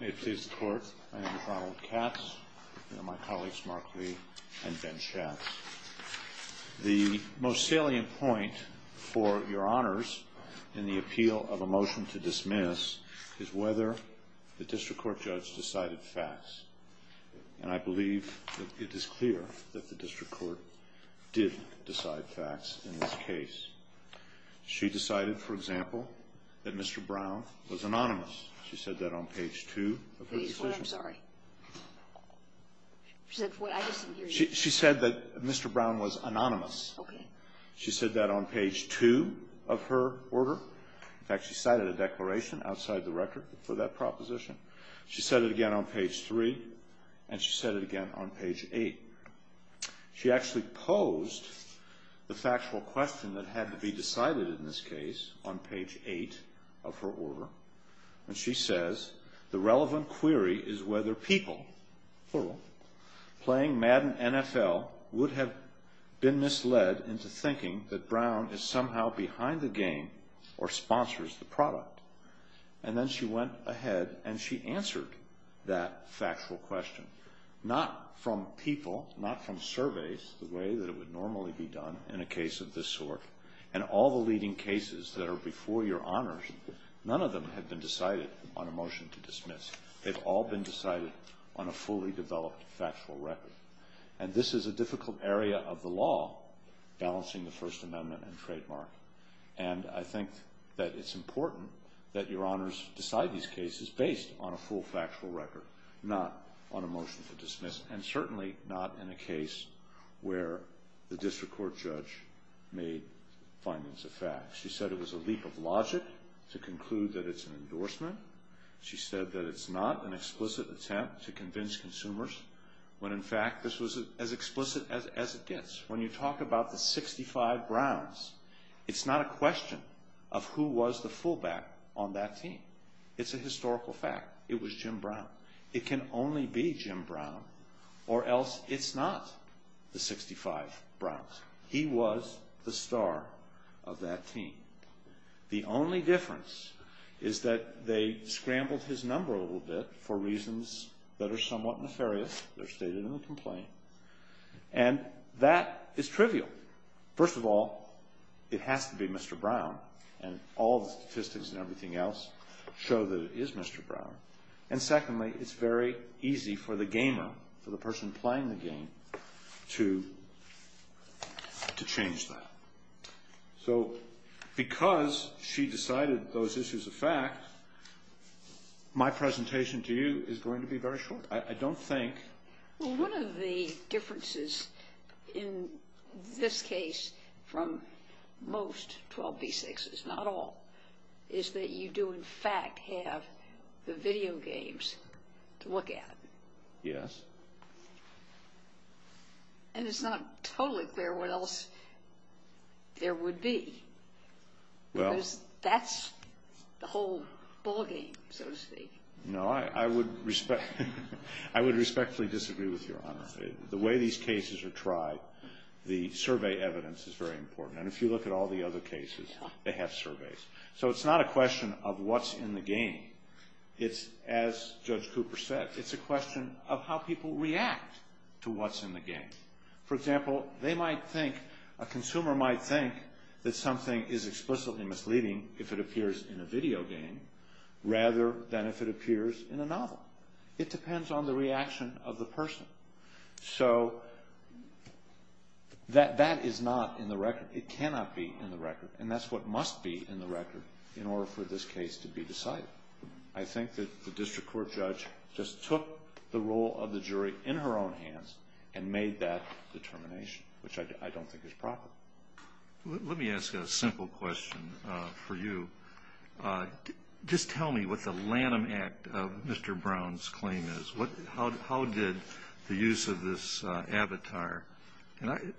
May it please the Court, I am Donald Katz, and my colleagues Mark Lee and Ben Schatz. The most salient point for your honors in the appeal of a motion to dismiss is whether the district court judge decided facts. And I believe that it is clear that the district court did decide facts in this case. She decided, for example, that Mr. Brown was anonymous. She said that on page 2 of her decision. Please wait, I'm sorry. She said that Mr. Brown was anonymous. Okay. She said that on page 2 of her order. In fact, she cited a declaration outside the record for that proposition. She said it again on page 3, and she said it again on page 8. She actually posed the factual question that had to be decided in this case on page 8 of her order. And she says, the relevant query is whether people playing Madden NFL would have been misled into thinking that Brown is somehow behind the game or sponsors the product. And then she went ahead and she answered that factual question. Not from people, not from surveys the way that it would normally be done in a case of this sort. And all the leading cases that are before your honors, none of them have been decided on a motion to dismiss. They've all been decided on a fully developed factual record. And this is a difficult area of the law, balancing the First Amendment and trademark. And I think that it's important that your honors decide these cases based on a full factual record, not on a motion to dismiss. And certainly not in a case where the district court judge made findings of fact. She said it was a leap of logic to conclude that it's an endorsement. She said that it's not an explicit attempt to convince consumers when in fact this was as explicit as it gets. When you talk about the 65 Browns, it's not a question of who was the fullback on that team. It's a historical fact. It was Jim Brown. It can only be Jim Brown or else it's not the 65 Browns. He was the star of that team. The only difference is that they scrambled his number a little bit for reasons that are somewhat nefarious. They're stated in the complaint. And that is trivial. First of all, it has to be Mr. Brown. And all the statistics and everything else show that it is Mr. Brown. And secondly, it's very easy for the gamer, for the person playing the game, to change that. So because she decided those issues a fact, my presentation to you is going to be very short. One of the differences in this case from most 12b6s, not all, is that you do in fact have the video games to look at. Yes. And it's not totally clear what else there would be. Because that's the whole ballgame, so to speak. No, I would respectfully disagree with Your Honor. The way these cases are tried, the survey evidence is very important. And if you look at all the other cases, they have surveys. So it's not a question of what's in the game. It's, as Judge Cooper said, it's a question of how people react to what's in the game. For example, they might think, a consumer might think that something is explicitly misleading if it appears in a video game, rather than if it appears in a novel. It depends on the reaction of the person. So that is not in the record. It cannot be in the record. And that's what must be in the record in order for this case to be decided. I think that the district court judge just took the role of the jury in her own hands and made that determination, which I don't think is profitable. Let me ask a simple question for you. Just tell me what the Lanham Act of Mr. Brown's claim is. How did the use of this avatar –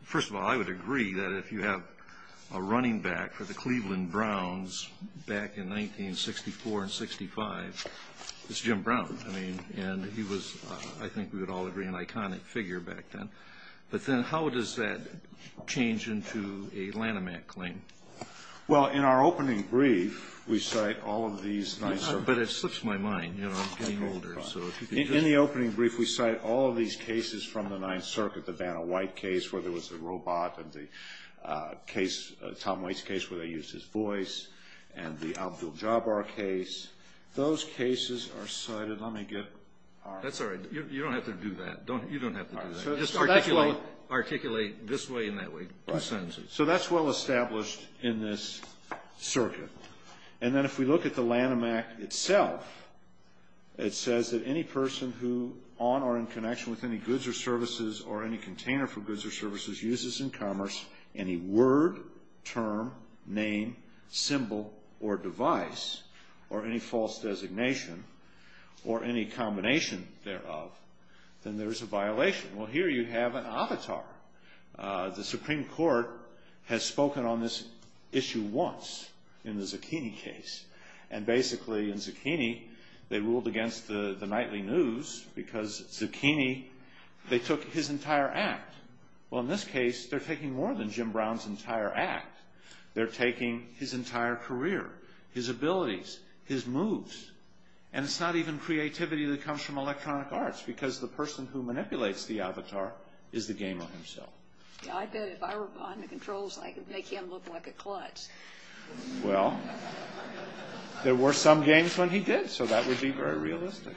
First of all, I would agree that if you have a running back for the Cleveland Browns back in 1964 and 65, it's Jim Brown. I mean, and he was, I think we would all agree, an iconic figure back then. But then how does that change into a Lanham Act claim? Well, in our opening brief, we cite all of these – But it slips my mind, you know, I'm getting older. In the opening brief, we cite all of these cases from the Ninth Circuit, the Banner-White case, where there was a robot, and the case, Tom Waits' case, where they used his voice, and the Abdul-Jabbar case. Those cases are cited. Let me get our – That's all right. You don't have to do that. You don't have to do that. Just articulate this way and that way. So that's well established in this circuit. And then if we look at the Lanham Act itself, it says that any person who, on or in connection with any goods or services or any container for goods or services, uses in commerce any word, term, name, symbol, or device, or any false designation, or any combination thereof, then there is a violation. Well, here you have an avatar. The Supreme Court has spoken on this issue once in the Zucchini case. And basically, in Zucchini, they ruled against the nightly news because Zucchini, they took his entire act. Well, in this case, they're taking more than Jim Brown's entire act. They're taking his entire career, his abilities, his moves. And it's not even creativity that comes from electronic arts, because the person who manipulates the avatar is the gamer himself. I bet if I were on the controls, they can't look like a clutch. Well, there were some games when he did, so that would be very realistic.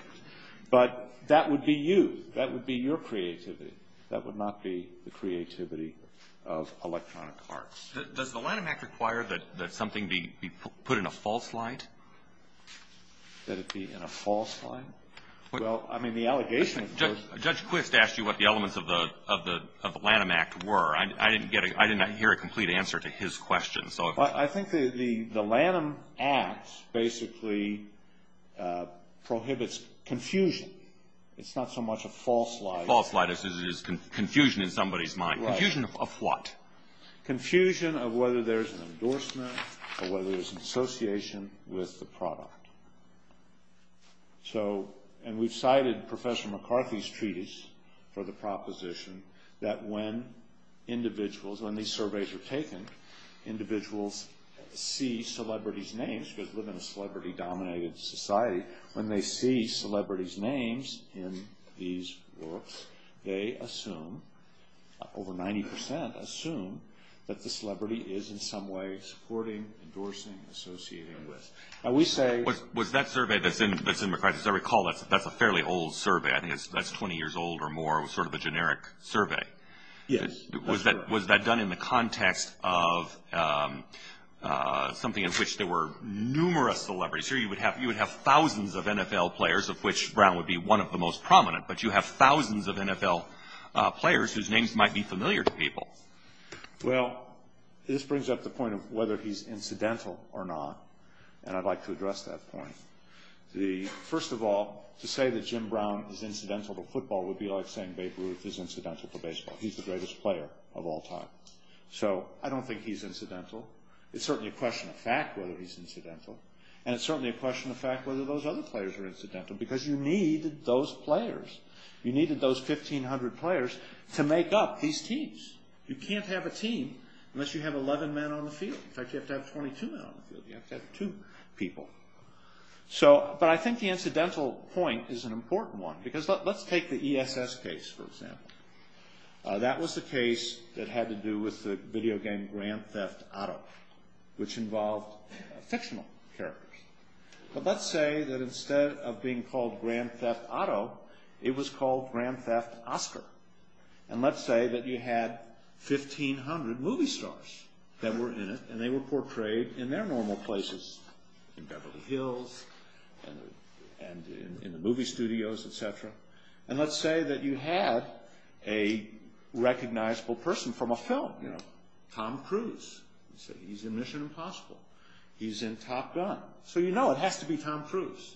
But that would be you. That would be your creativity. That would not be the creativity of electronic arts. Does the Lanham Act require that something be put in a false light? That it be in a false light? Well, I mean, the allegation of course. Judge Quist asked you what the elements of the Lanham Act were. I didn't hear a complete answer to his question. I think the Lanham Act basically prohibits confusion. It's not so much a false light. False light is confusion in somebody's mind. Right. Confusion of what? Confusion of whether there's an endorsement or whether there's an association with the product. So, and we've cited Professor McCarthy's treatise for the proposition that when individuals, when these surveys are taken, individuals see celebrities' names, because we live in a celebrity-dominated society, when they see celebrities' names in these works, they assume, over 90 percent assume, that the celebrity is in some way supporting, endorsing, associating with. Now, we say Was that survey that's in McCarthy's, I recall that's a fairly old survey. I think that's 20 years old or more, sort of a generic survey. Yes. Was that done in the context of something in which there were numerous celebrities? Here you would have thousands of NFL players, of which Brown would be one of the most prominent, but you have thousands of NFL players whose names might be familiar to people. Well, this brings up the point of whether he's incidental or not. And I'd like to address that point. First of all, to say that Jim Brown is incidental to football would be like saying Babe Ruth is incidental to baseball. He's the greatest player of all time. So, I don't think he's incidental. It's certainly a question of fact whether he's incidental, and it's certainly a question of fact whether those other players are incidental, because you need those players. You needed those 1,500 players to make up these teams. You can't have a team unless you have 11 men on the field. In fact, you have to have 22 men on the field. You have to have two people. But I think the incidental point is an important one, because let's take the ESS case, for example. That was the case that had to do with the video game Grand Theft Auto, which involved fictional characters. But let's say that instead of being called Grand Theft Auto, it was called Grand Theft Oscar. And let's say that you had 1,500 movie stars that were in it, and they were portrayed in their normal places, in Beverly Hills and in the movie studios, etc. And let's say that you had a recognizable person from a film, you know, Tom Cruise. You say, he's in Mission Impossible. He's in Top Gun. So you know it has to be Tom Cruise.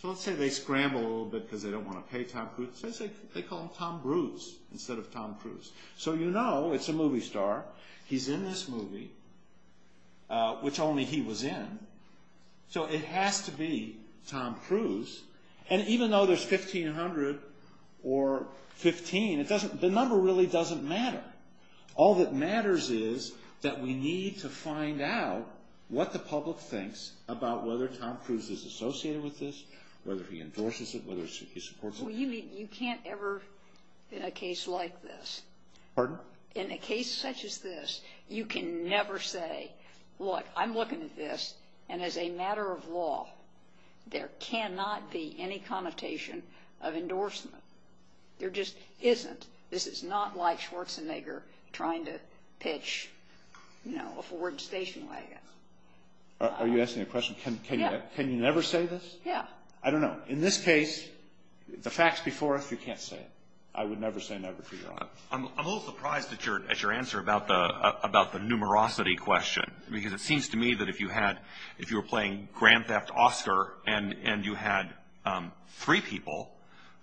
So let's say they scramble a little bit because they don't want to pay Tom Cruise. Let's say they call him Tom Bruce instead of Tom Cruise. So you know it's a movie star. He's in this movie, which only he was in. So it has to be Tom Cruise. And even though there's 1,500 or 15, the number really doesn't matter. All that matters is that we need to find out what the public thinks about whether Tom Cruise is associated with this, whether he endorses it, whether he supports it. Well, you can't ever in a case like this. Pardon? In a case such as this, you can never say, look, I'm looking at this, and as a matter of law, there cannot be any connotation of endorsement. There just isn't. This is not like Schwarzenegger trying to pitch, you know, a Ford station wagon. Are you asking a question? Can you never say this? Yeah. I don't know. In this case, the facts before us, you can't say it. I would never say never to your honor. I'm a little surprised at your answer about the numerosity question, because it seems to me that if you were playing Grand Theft Oscar and you had three people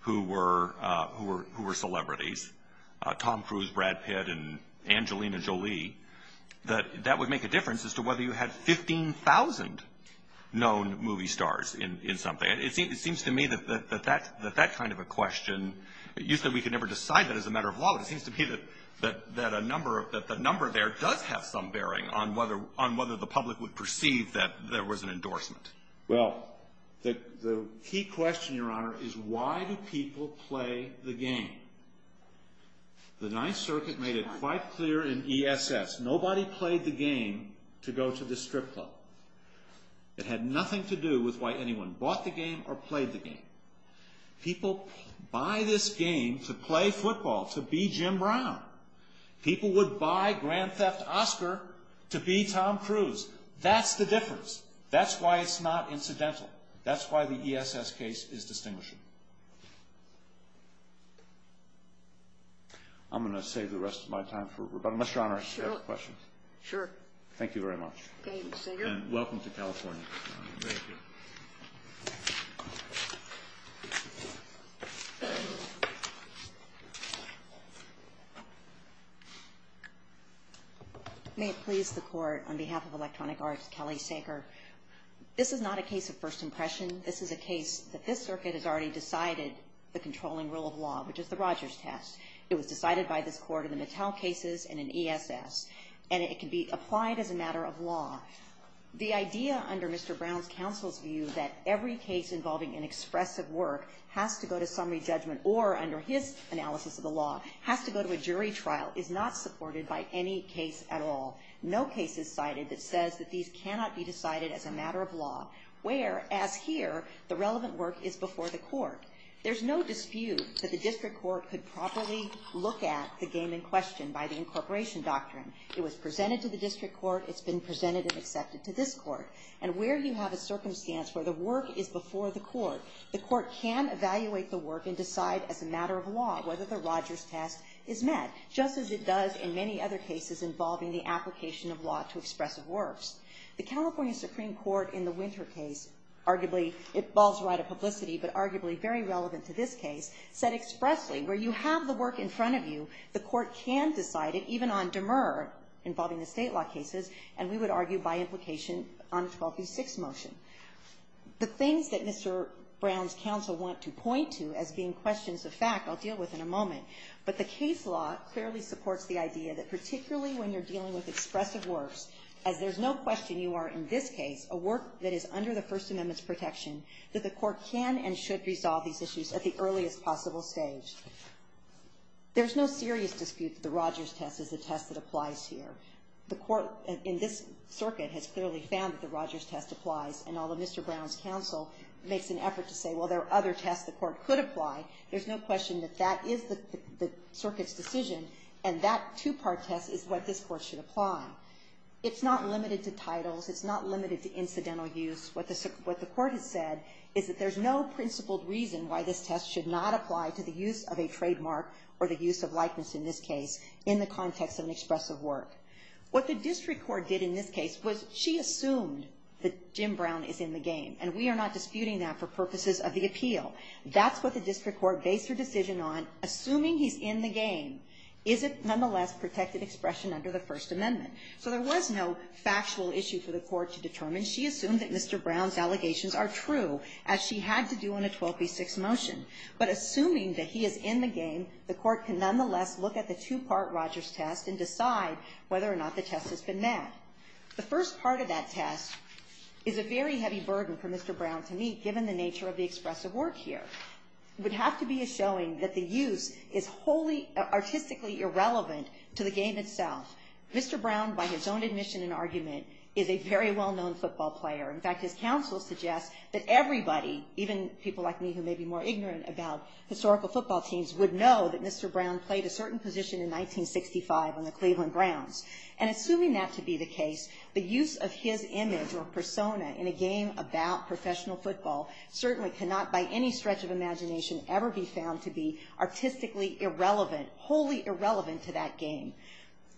who were celebrities, Tom Cruise, Brad Pitt, and Angelina Jolie, that that would make a difference as to whether you had 15,000 known movie stars in something. It seems to me that that kind of a question, you said we could never decide that as a matter of law, but it seems to me that the number there does have some bearing on whether the public would perceive that there was an endorsement. Well, the key question, your honor, is why do people play the game? The Ninth Circuit made it quite clear in ESS, nobody played the game to go to the strip club. It had nothing to do with why anyone bought the game or played the game. People buy this game to play football, to be Jim Brown. People would buy Grand Theft Oscar to be Tom Cruise. That's the difference. That's why it's not incidental. That's why the ESS case is distinguishing. I'm going to save the rest of my time for rebuttal. Mr. Honor, I have a question. Sure. Thank you very much. Thank you, Sager. And welcome to California. Thank you. May it please the Court, on behalf of Electronic Arts, Kelly Sager, this is not a case of first impression. This is a case that this Circuit has already decided the controlling rule of law, which is the Rogers test. It was decided by this Court in the Mattel cases and in ESS, and it can be applied as a matter of law. The idea under Mr. Brown's counsel's view that every case involving inexpressive work has to go to summary judgment or, under his analysis of the law, has to go to a jury trial, is not supported by any case at all. No case is cited that says that these cannot be decided as a matter of law, whereas here the relevant work is before the Court. There's no dispute that the District Court could properly look at the game in this case. It was presented to the District Court. It's been presented and accepted to this Court. And where you have a circumstance where the work is before the Court, the Court can evaluate the work and decide as a matter of law whether the Rogers test is met, just as it does in many other cases involving the application of law to expressive works. The California Supreme Court in the Winter case, arguably, it falls right of publicity, but arguably very relevant to this case, said expressly, where you have the work in front of you, the Court can decide it, even on demur, involving the state law cases, and we would argue by implication on 12B6 motion. The things that Mr. Brown's counsel want to point to as being questions of fact I'll deal with in a moment, but the case law clearly supports the idea that particularly when you're dealing with expressive works, as there's no question you are, in this case, a work that is under the First Amendment's protection, that the Court can and should resolve these issues at the earliest possible stage. There's no serious dispute that the Rogers test is a test that applies here. The Court in this circuit has clearly found that the Rogers test applies, and although Mr. Brown's counsel makes an effort to say, well, there are other tests the Court could apply, there's no question that that is the circuit's decision, and that two-part test is what this Court should apply. It's not limited to titles. It's not limited to incidental use. What the Court has said is that there's no principled reason why this test should not apply to the use of a trademark or the use of likeness in this case in the context of an expressive work. What the district court did in this case was she assumed that Jim Brown is in the game, and we are not disputing that for purposes of the appeal. That's what the district court based her decision on. Assuming he's in the game, is it nonetheless protected expression under the First Amendment? So there was no factual issue for the Court to determine. She assumed that Mr. Brown's allegations are true, as she had to do in a 12b6 motion. But assuming that he is in the game, the Court can nonetheless look at the two-part Rogers test and decide whether or not the test has been met. The first part of that test is a very heavy burden for Mr. Brown to meet, given the nature of the expressive work here. It would have to be a showing that the use is wholly artistically irrelevant to the game itself. Mr. Brown, by his own admission and argument, is a very well-known football player. In fact, his counsel suggests that everybody, even people like me who may be more ignorant about historical football teams, would know that Mr. Brown played a certain position in 1965 on the Cleveland Browns. And assuming that to be the case, the use of his image or persona in a game about professional football certainly cannot by any stretch of imagination ever be found to be artistically irrelevant, wholly irrelevant to that game.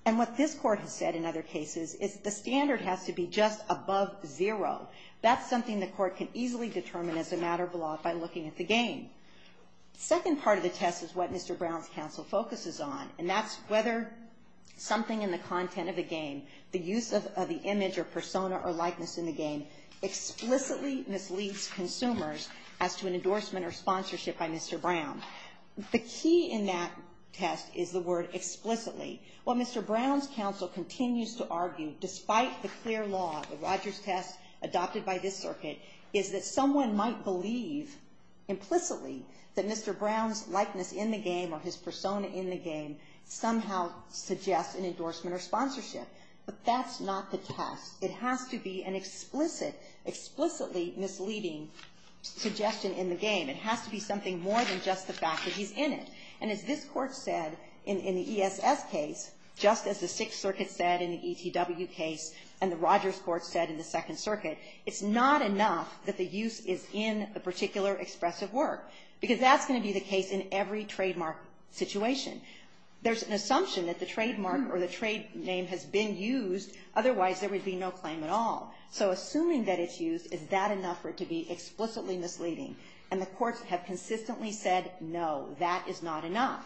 And what this Court has said in other cases is the standard has to be just above zero. That's something the Court can easily determine as a matter of law by looking at the game. The second part of the test is what Mr. Brown's counsel focuses on, and that's whether something in the content of the game, the use of the image or persona or likeness in the game, explicitly misleads consumers as to an endorsement or sponsorship by Mr. Brown. The key in that test is the word explicitly. What Mr. Brown's counsel continues to argue, despite the clear law, the Rogers test adopted by this circuit, is that someone might believe implicitly that Mr. Brown's likeness in the game or his persona in the game somehow suggests an endorsement or sponsorship. But that's not the test. It has to be an explicitly misleading suggestion in the game. It has to be something more than just the fact that he's in it. And as this Court said in the ESS case, just as the Sixth Circuit said in the ETW case and the Rogers Court said in the Second Circuit, it's not enough that the use is in a particular expressive work, because that's going to be the case in every trademark situation. There's an assumption that the trademark or the trade name has been used, otherwise there would be no claim at all. So assuming that it's used, is that enough for it to be explicitly misleading? And the courts have consistently said, no, that is not enough.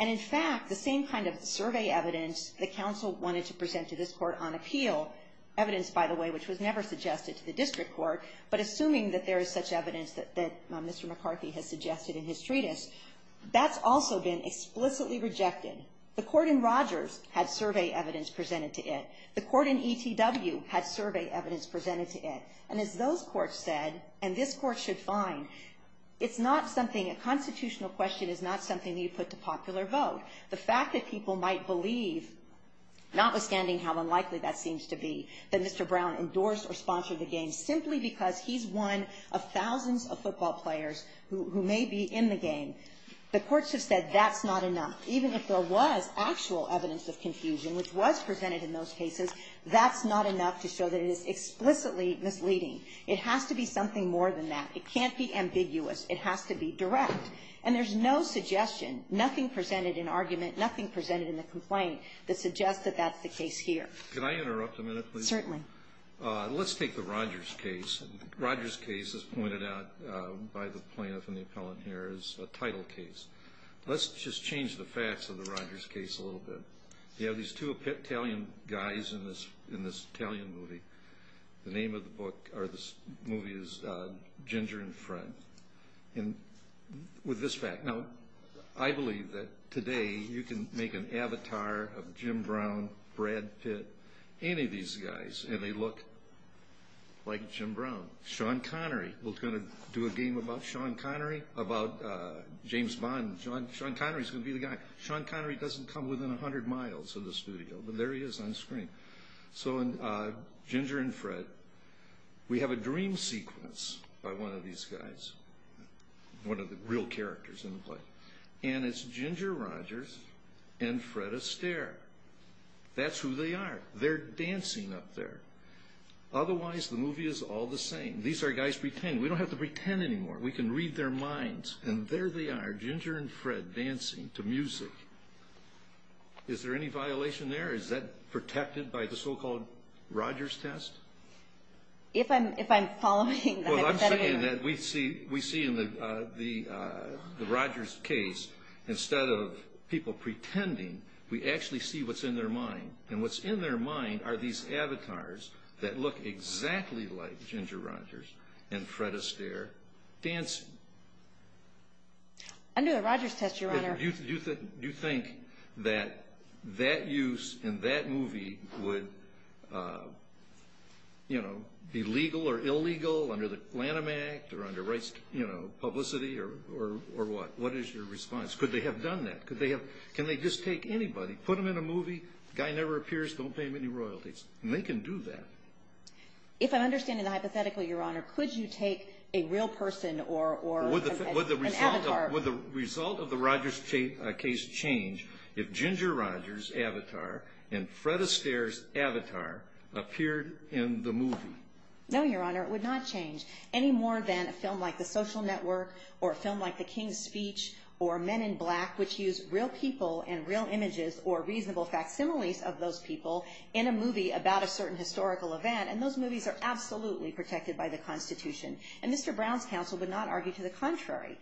And in fact, the same kind of survey evidence the counsel wanted to present to this Court on appeal, evidence, by the way, which was never suggested to the district court, but assuming that there is such evidence that Mr. McCarthy has suggested in his treatise, that's also been explicitly rejected. The court in Rogers had survey evidence presented to it. The court in ETW had survey evidence presented to it. And as those courts said, and this Court should find, it's not something, a constitutional question is not something that you put to popular vote. The fact that people might believe, notwithstanding how unlikely that seems to be, that Mr. Brown endorsed or sponsored the game simply because he's one of thousands of football players who may be in the game, the courts have said that's not enough. Even if there was actual evidence of confusion, which was presented in those cases, that's not enough to show that it is explicitly misleading. It has to be something more than that. It can't be ambiguous. It has to be direct. And there's no suggestion, nothing presented in argument, nothing presented in the complaint that suggests that that's the case here. Can I interrupt a minute, please? Certainly. Let's take the Rogers case. Rogers case, as pointed out by the plaintiff and the appellant here, is a title case. Let's just change the facts of the Rogers case a little bit. You have these two Italian guys in this Italian movie. The name of the movie is Ginger and Friend. And with this fact. Now, I believe that today you can make an avatar of Jim Brown, Brad Pitt, any of these guys, and they look like Jim Brown. Sean Connery was going to do a game about Sean Connery, about James Bond. Sean Connery is going to be the guy. Sean Connery doesn't come within 100 miles of the studio, but there he is on screen. So Ginger and Fred, we have a dream sequence by one of these guys. One of the real characters in the play. And it's Ginger Rogers and Fred Astaire. That's who they are. They're dancing up there. Otherwise, the movie is all the same. These are guys pretending. We don't have to pretend anymore. We can read their minds. And there they are, Ginger and Fred, dancing to music. Is there any violation there? Is that protected by the so-called Rogers test? If I'm following the hypothetical. Well, I'm saying that we see in the Rogers case, instead of people pretending, we actually see what's in their mind. And what's in their mind are these avatars that look exactly like Ginger Rogers and Fred Astaire dancing. Under the Rogers test, Your Honor. Do you think that that use in that movie would be legal or illegal under the Lanham Act, or under rights publicity, or what? What is your response? Could they have done that? Can they just take anybody, put them in a movie, guy never appears, don't pay him any royalties? And they can do that. If I'm understanding the hypothetical, Your Honor, could you take a real person or an avatar? Would the result of the Rogers case change if Ginger Rogers' avatar and Fred Astaire's avatar appeared in the movie? No, Your Honor, it would not change any more than a film like The Social Network, or a film like The King's Speech, or Men in Black, which use real people and real images or reasonable facsimiles of those people in a movie about a certain historical event. And those movies are absolutely protected by the Constitution. And Mr. Brown's counsel would not argue to the contrary.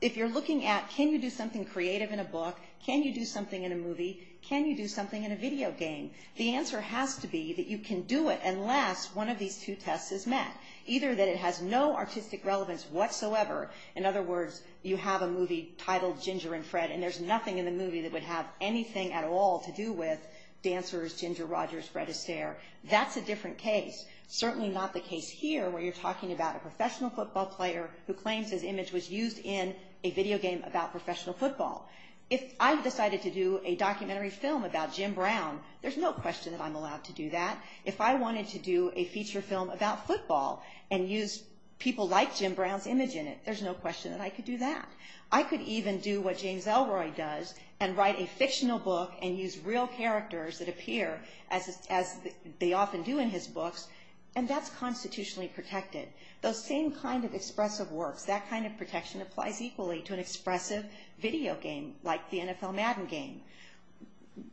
If you're looking at can you do something creative in a book, can you do something in a movie, can you do something in a video game, the answer has to be that you can do it unless one of these two tests is met. Either that it has no artistic relevance whatsoever, in other words, you have a movie titled Ginger and Fred, and there's nothing in the movie that would have anything at all to do with dancers, Ginger Rogers, Fred Astaire. That's a different case. Certainly not the case here where you're talking about a professional football player who claims his image was used in a video game about professional football. If I decided to do a documentary film about Jim Brown, there's no question that I'm allowed to do that. If I wanted to do a feature film about football and use people like Jim Brown's image in it, there's no question that I could do that. I could even do what James Ellroy does and write a fictional book and use real characters that appear as they often do in his books, and that's constitutionally protected. Those same kind of expressive works, that kind of protection applies equally to an expressive video game like the NFL Madden game.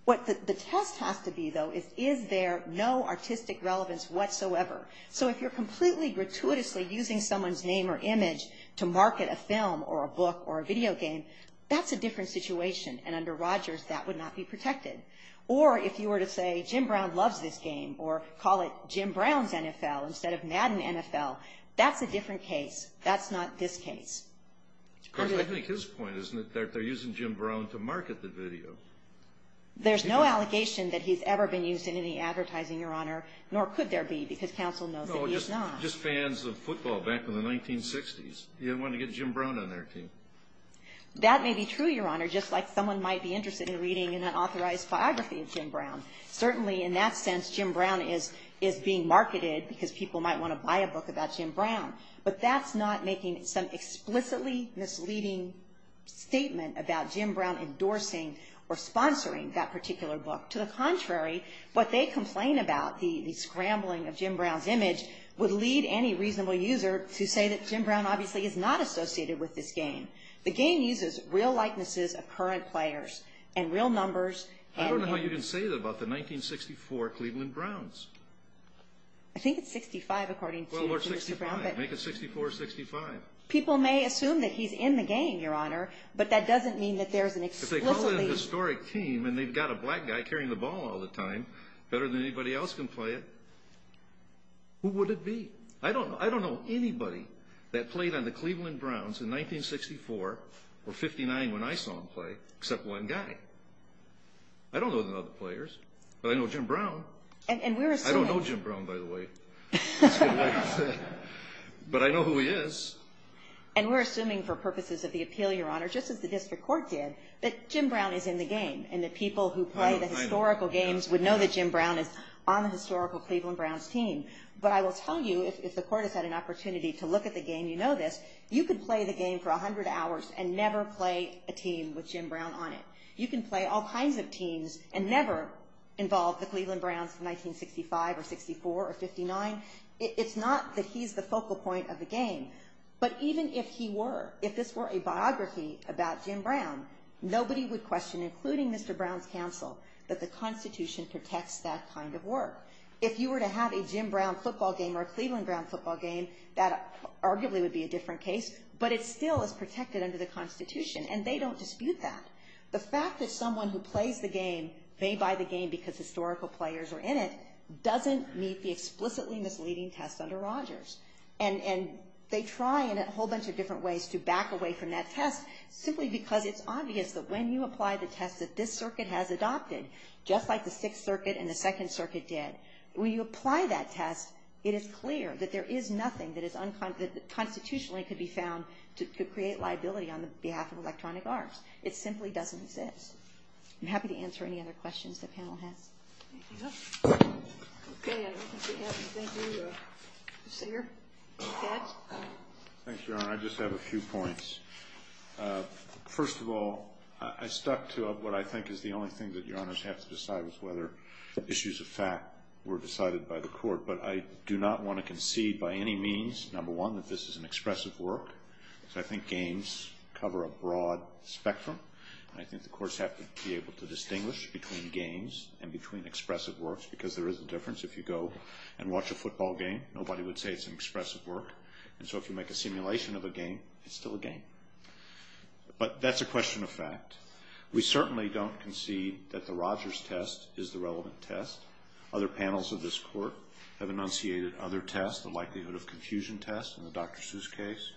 What the test has to be, though, is is there no artistic relevance whatsoever? So if you're completely gratuitously using someone's name or image to market a film or a book or a video game, that's a different situation, and under Rogers that would not be protected. Or if you were to say Jim Brown loves this game or call it Jim Brown's NFL instead of Madden NFL, that's a different case. That's not this case. I think his point is that they're using Jim Brown to market the video. There's no allegation that he's ever been used in any advertising, Your Honor, nor could there be because counsel knows that he is not. No, just fans of football back in the 1960s. You didn't want to get Jim Brown in there, too. That may be true, Your Honor, just like someone might be interested in reading an unauthorized biography of Jim Brown. Certainly in that sense Jim Brown is being marketed because people might want to buy a book about Jim Brown, but that's not making some explicitly misleading statement about Jim Brown endorsing or sponsoring that particular book. To the contrary, what they complain about, the scrambling of Jim Brown's image, would lead any reasonable user to say that Jim Brown obviously is not associated with this game. The game uses real likenesses of current players and real numbers. I don't know how you can say that about the 1964 Cleveland Browns. I think it's 65 according to Mr. Brown. Make it 64 or 65. People may assume that he's in the game, Your Honor, but that doesn't mean that there's an explicitly If they call it a historic team and they've got a black guy carrying the ball all the time, better than anybody else can play it, who would it be? I don't know anybody that played on the Cleveland Browns in 1964 or 59 when I saw them play except one guy. I don't know the other players, but I know Jim Brown. I don't know Jim Brown, by the way, but I know who he is. And we're assuming for purposes of the appeal, Your Honor, just as the district court did, that Jim Brown is in the game and that people who play the historical games would know that Jim Brown is on the historical Cleveland Browns team. But I will tell you, if the court has had an opportunity to look at the game, you know this, you could play the game for 100 hours and never play a team with Jim Brown on it. You can play all kinds of teams and never involve the Cleveland Browns of 1965 or 64 or 59. It's not that he's the focal point of the game, but even if he were, a biography about Jim Brown, nobody would question, including Mr. Brown's counsel, that the Constitution protects that kind of work. If you were to have a Jim Brown football game or a Cleveland Brown football game, that arguably would be a different case, but it still is protected under the Constitution, and they don't dispute that. The fact that someone who plays the game may buy the game because historical players are in it doesn't meet the explicitly misleading test under Rogers. And they try in a whole bunch of different ways to back away from that test simply because it's obvious that when you apply the test that this circuit has adopted, just like the Sixth Circuit and the Second Circuit did, when you apply that test, it is clear that there is nothing that constitutionally could be found to create liability on behalf of electronic arms. It simply doesn't exist. I'm happy to answer any other questions the panel has. Okay, I don't think we have anything to say here. Judge? Thank you, Your Honor. I just have a few points. First of all, I stuck to what I think is the only thing that Your Honors have to decide is whether issues of fact were decided by the court, but I do not want to concede by any means, number one, that this is an expressive work. I think games cover a broad spectrum, and I think the courts have to be able to distinguish between games and between expressive works because there is a difference. If you go and watch a football game, nobody would say it's an expressive work. And so if you make a simulation of a game, it's still a game. But that's a question of fact. We certainly don't concede that the Rogers test is the relevant test. Other panels of this Court have enunciated other tests, the likelihood of confusion test in the Dr. Seuss case,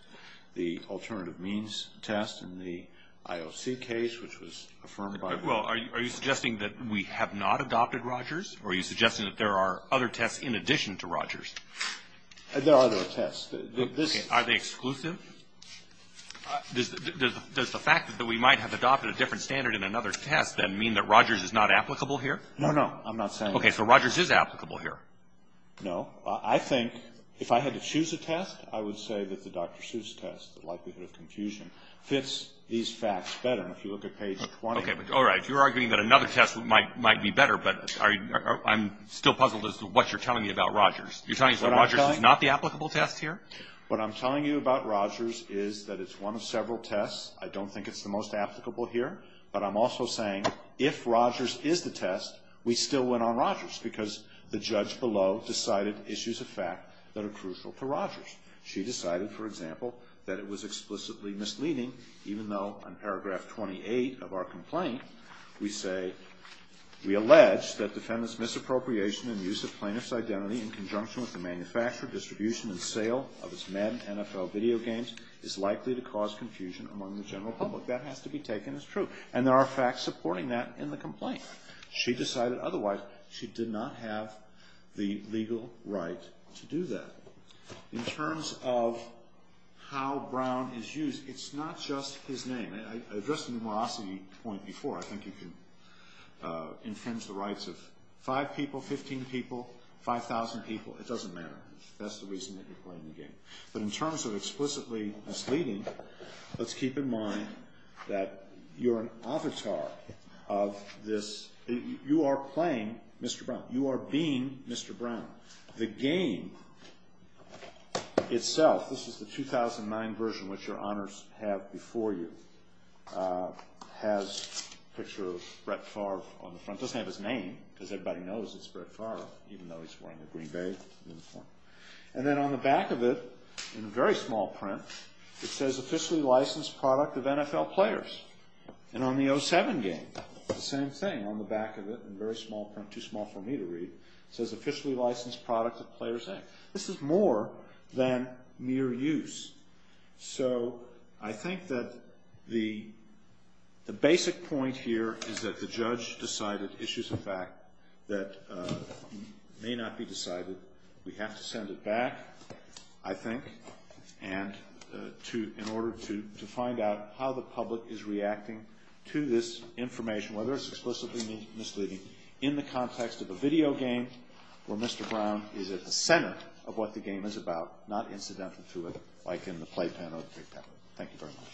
the alternative means test in the IOC case, which was affirmed by the court. Well, are you suggesting that we have not adopted Rogers, or are you suggesting that there are other tests in addition to Rogers? There are other tests. Okay. Are they exclusive? Does the fact that we might have adopted a different standard in another test then mean that Rogers is not applicable here? No, no. I'm not saying that. Okay. So Rogers is applicable here. No. I think if I had to choose a test, I would say that the Dr. Seuss test, the likelihood of confusion, fits these facts better. If you look at page 20. Okay. All right. You're arguing that another test might be better, but I'm still puzzled as to what you're telling me about Rogers. You're telling me Rogers is not the applicable test here? What I'm telling you about Rogers is that it's one of several tests. I don't think it's the most applicable here. But I'm also saying if Rogers is the test, we still went on Rogers because the judge below decided issues of fact that are crucial to Rogers. She decided, for example, that it was explicitly misleading, even though in paragraph 28 of our complaint we say, we allege that defendant's misappropriation and use of plaintiff's identity in conjunction with the manufacture, distribution, and sale of his men NFL video games is likely to cause confusion among the general public. That has to be taken as true. And there are facts supporting that in the complaint. She decided otherwise. She did not have the legal right to do that. In terms of how Brown is used, it's not just his name. I addressed the numerosity point before. I think you can infringe the rights of five people, 15 people, 5,000 people. It doesn't matter. That's the reason that you're playing the game. But in terms of explicitly misleading, let's keep in mind that you're an avatar of this. You are playing Mr. Brown. You are being Mr. Brown. The game itself, this is the 2009 version, which your honors have before you, has a picture of Brett Favre on the front. It doesn't have his name because everybody knows it's Brett Favre, even though he's wearing a green bag. And then on the back of it, in very small print, it says, Officially Licensed Product of NFL Players. And on the 07 game, the same thing, on the back of it, in very small print, too small for me to read, it says, Officially Licensed Product of Players Inc. This is more than mere use. So I think that the basic point here is that the judge decided, but it issues a fact that may not be decided. We have to send it back, I think, in order to find out how the public is reacting to this information, whether it's explicitly misleading, in the context of a video game where Mr. Brown is at the center of what the game is about, not incidental to it, Thank you very much.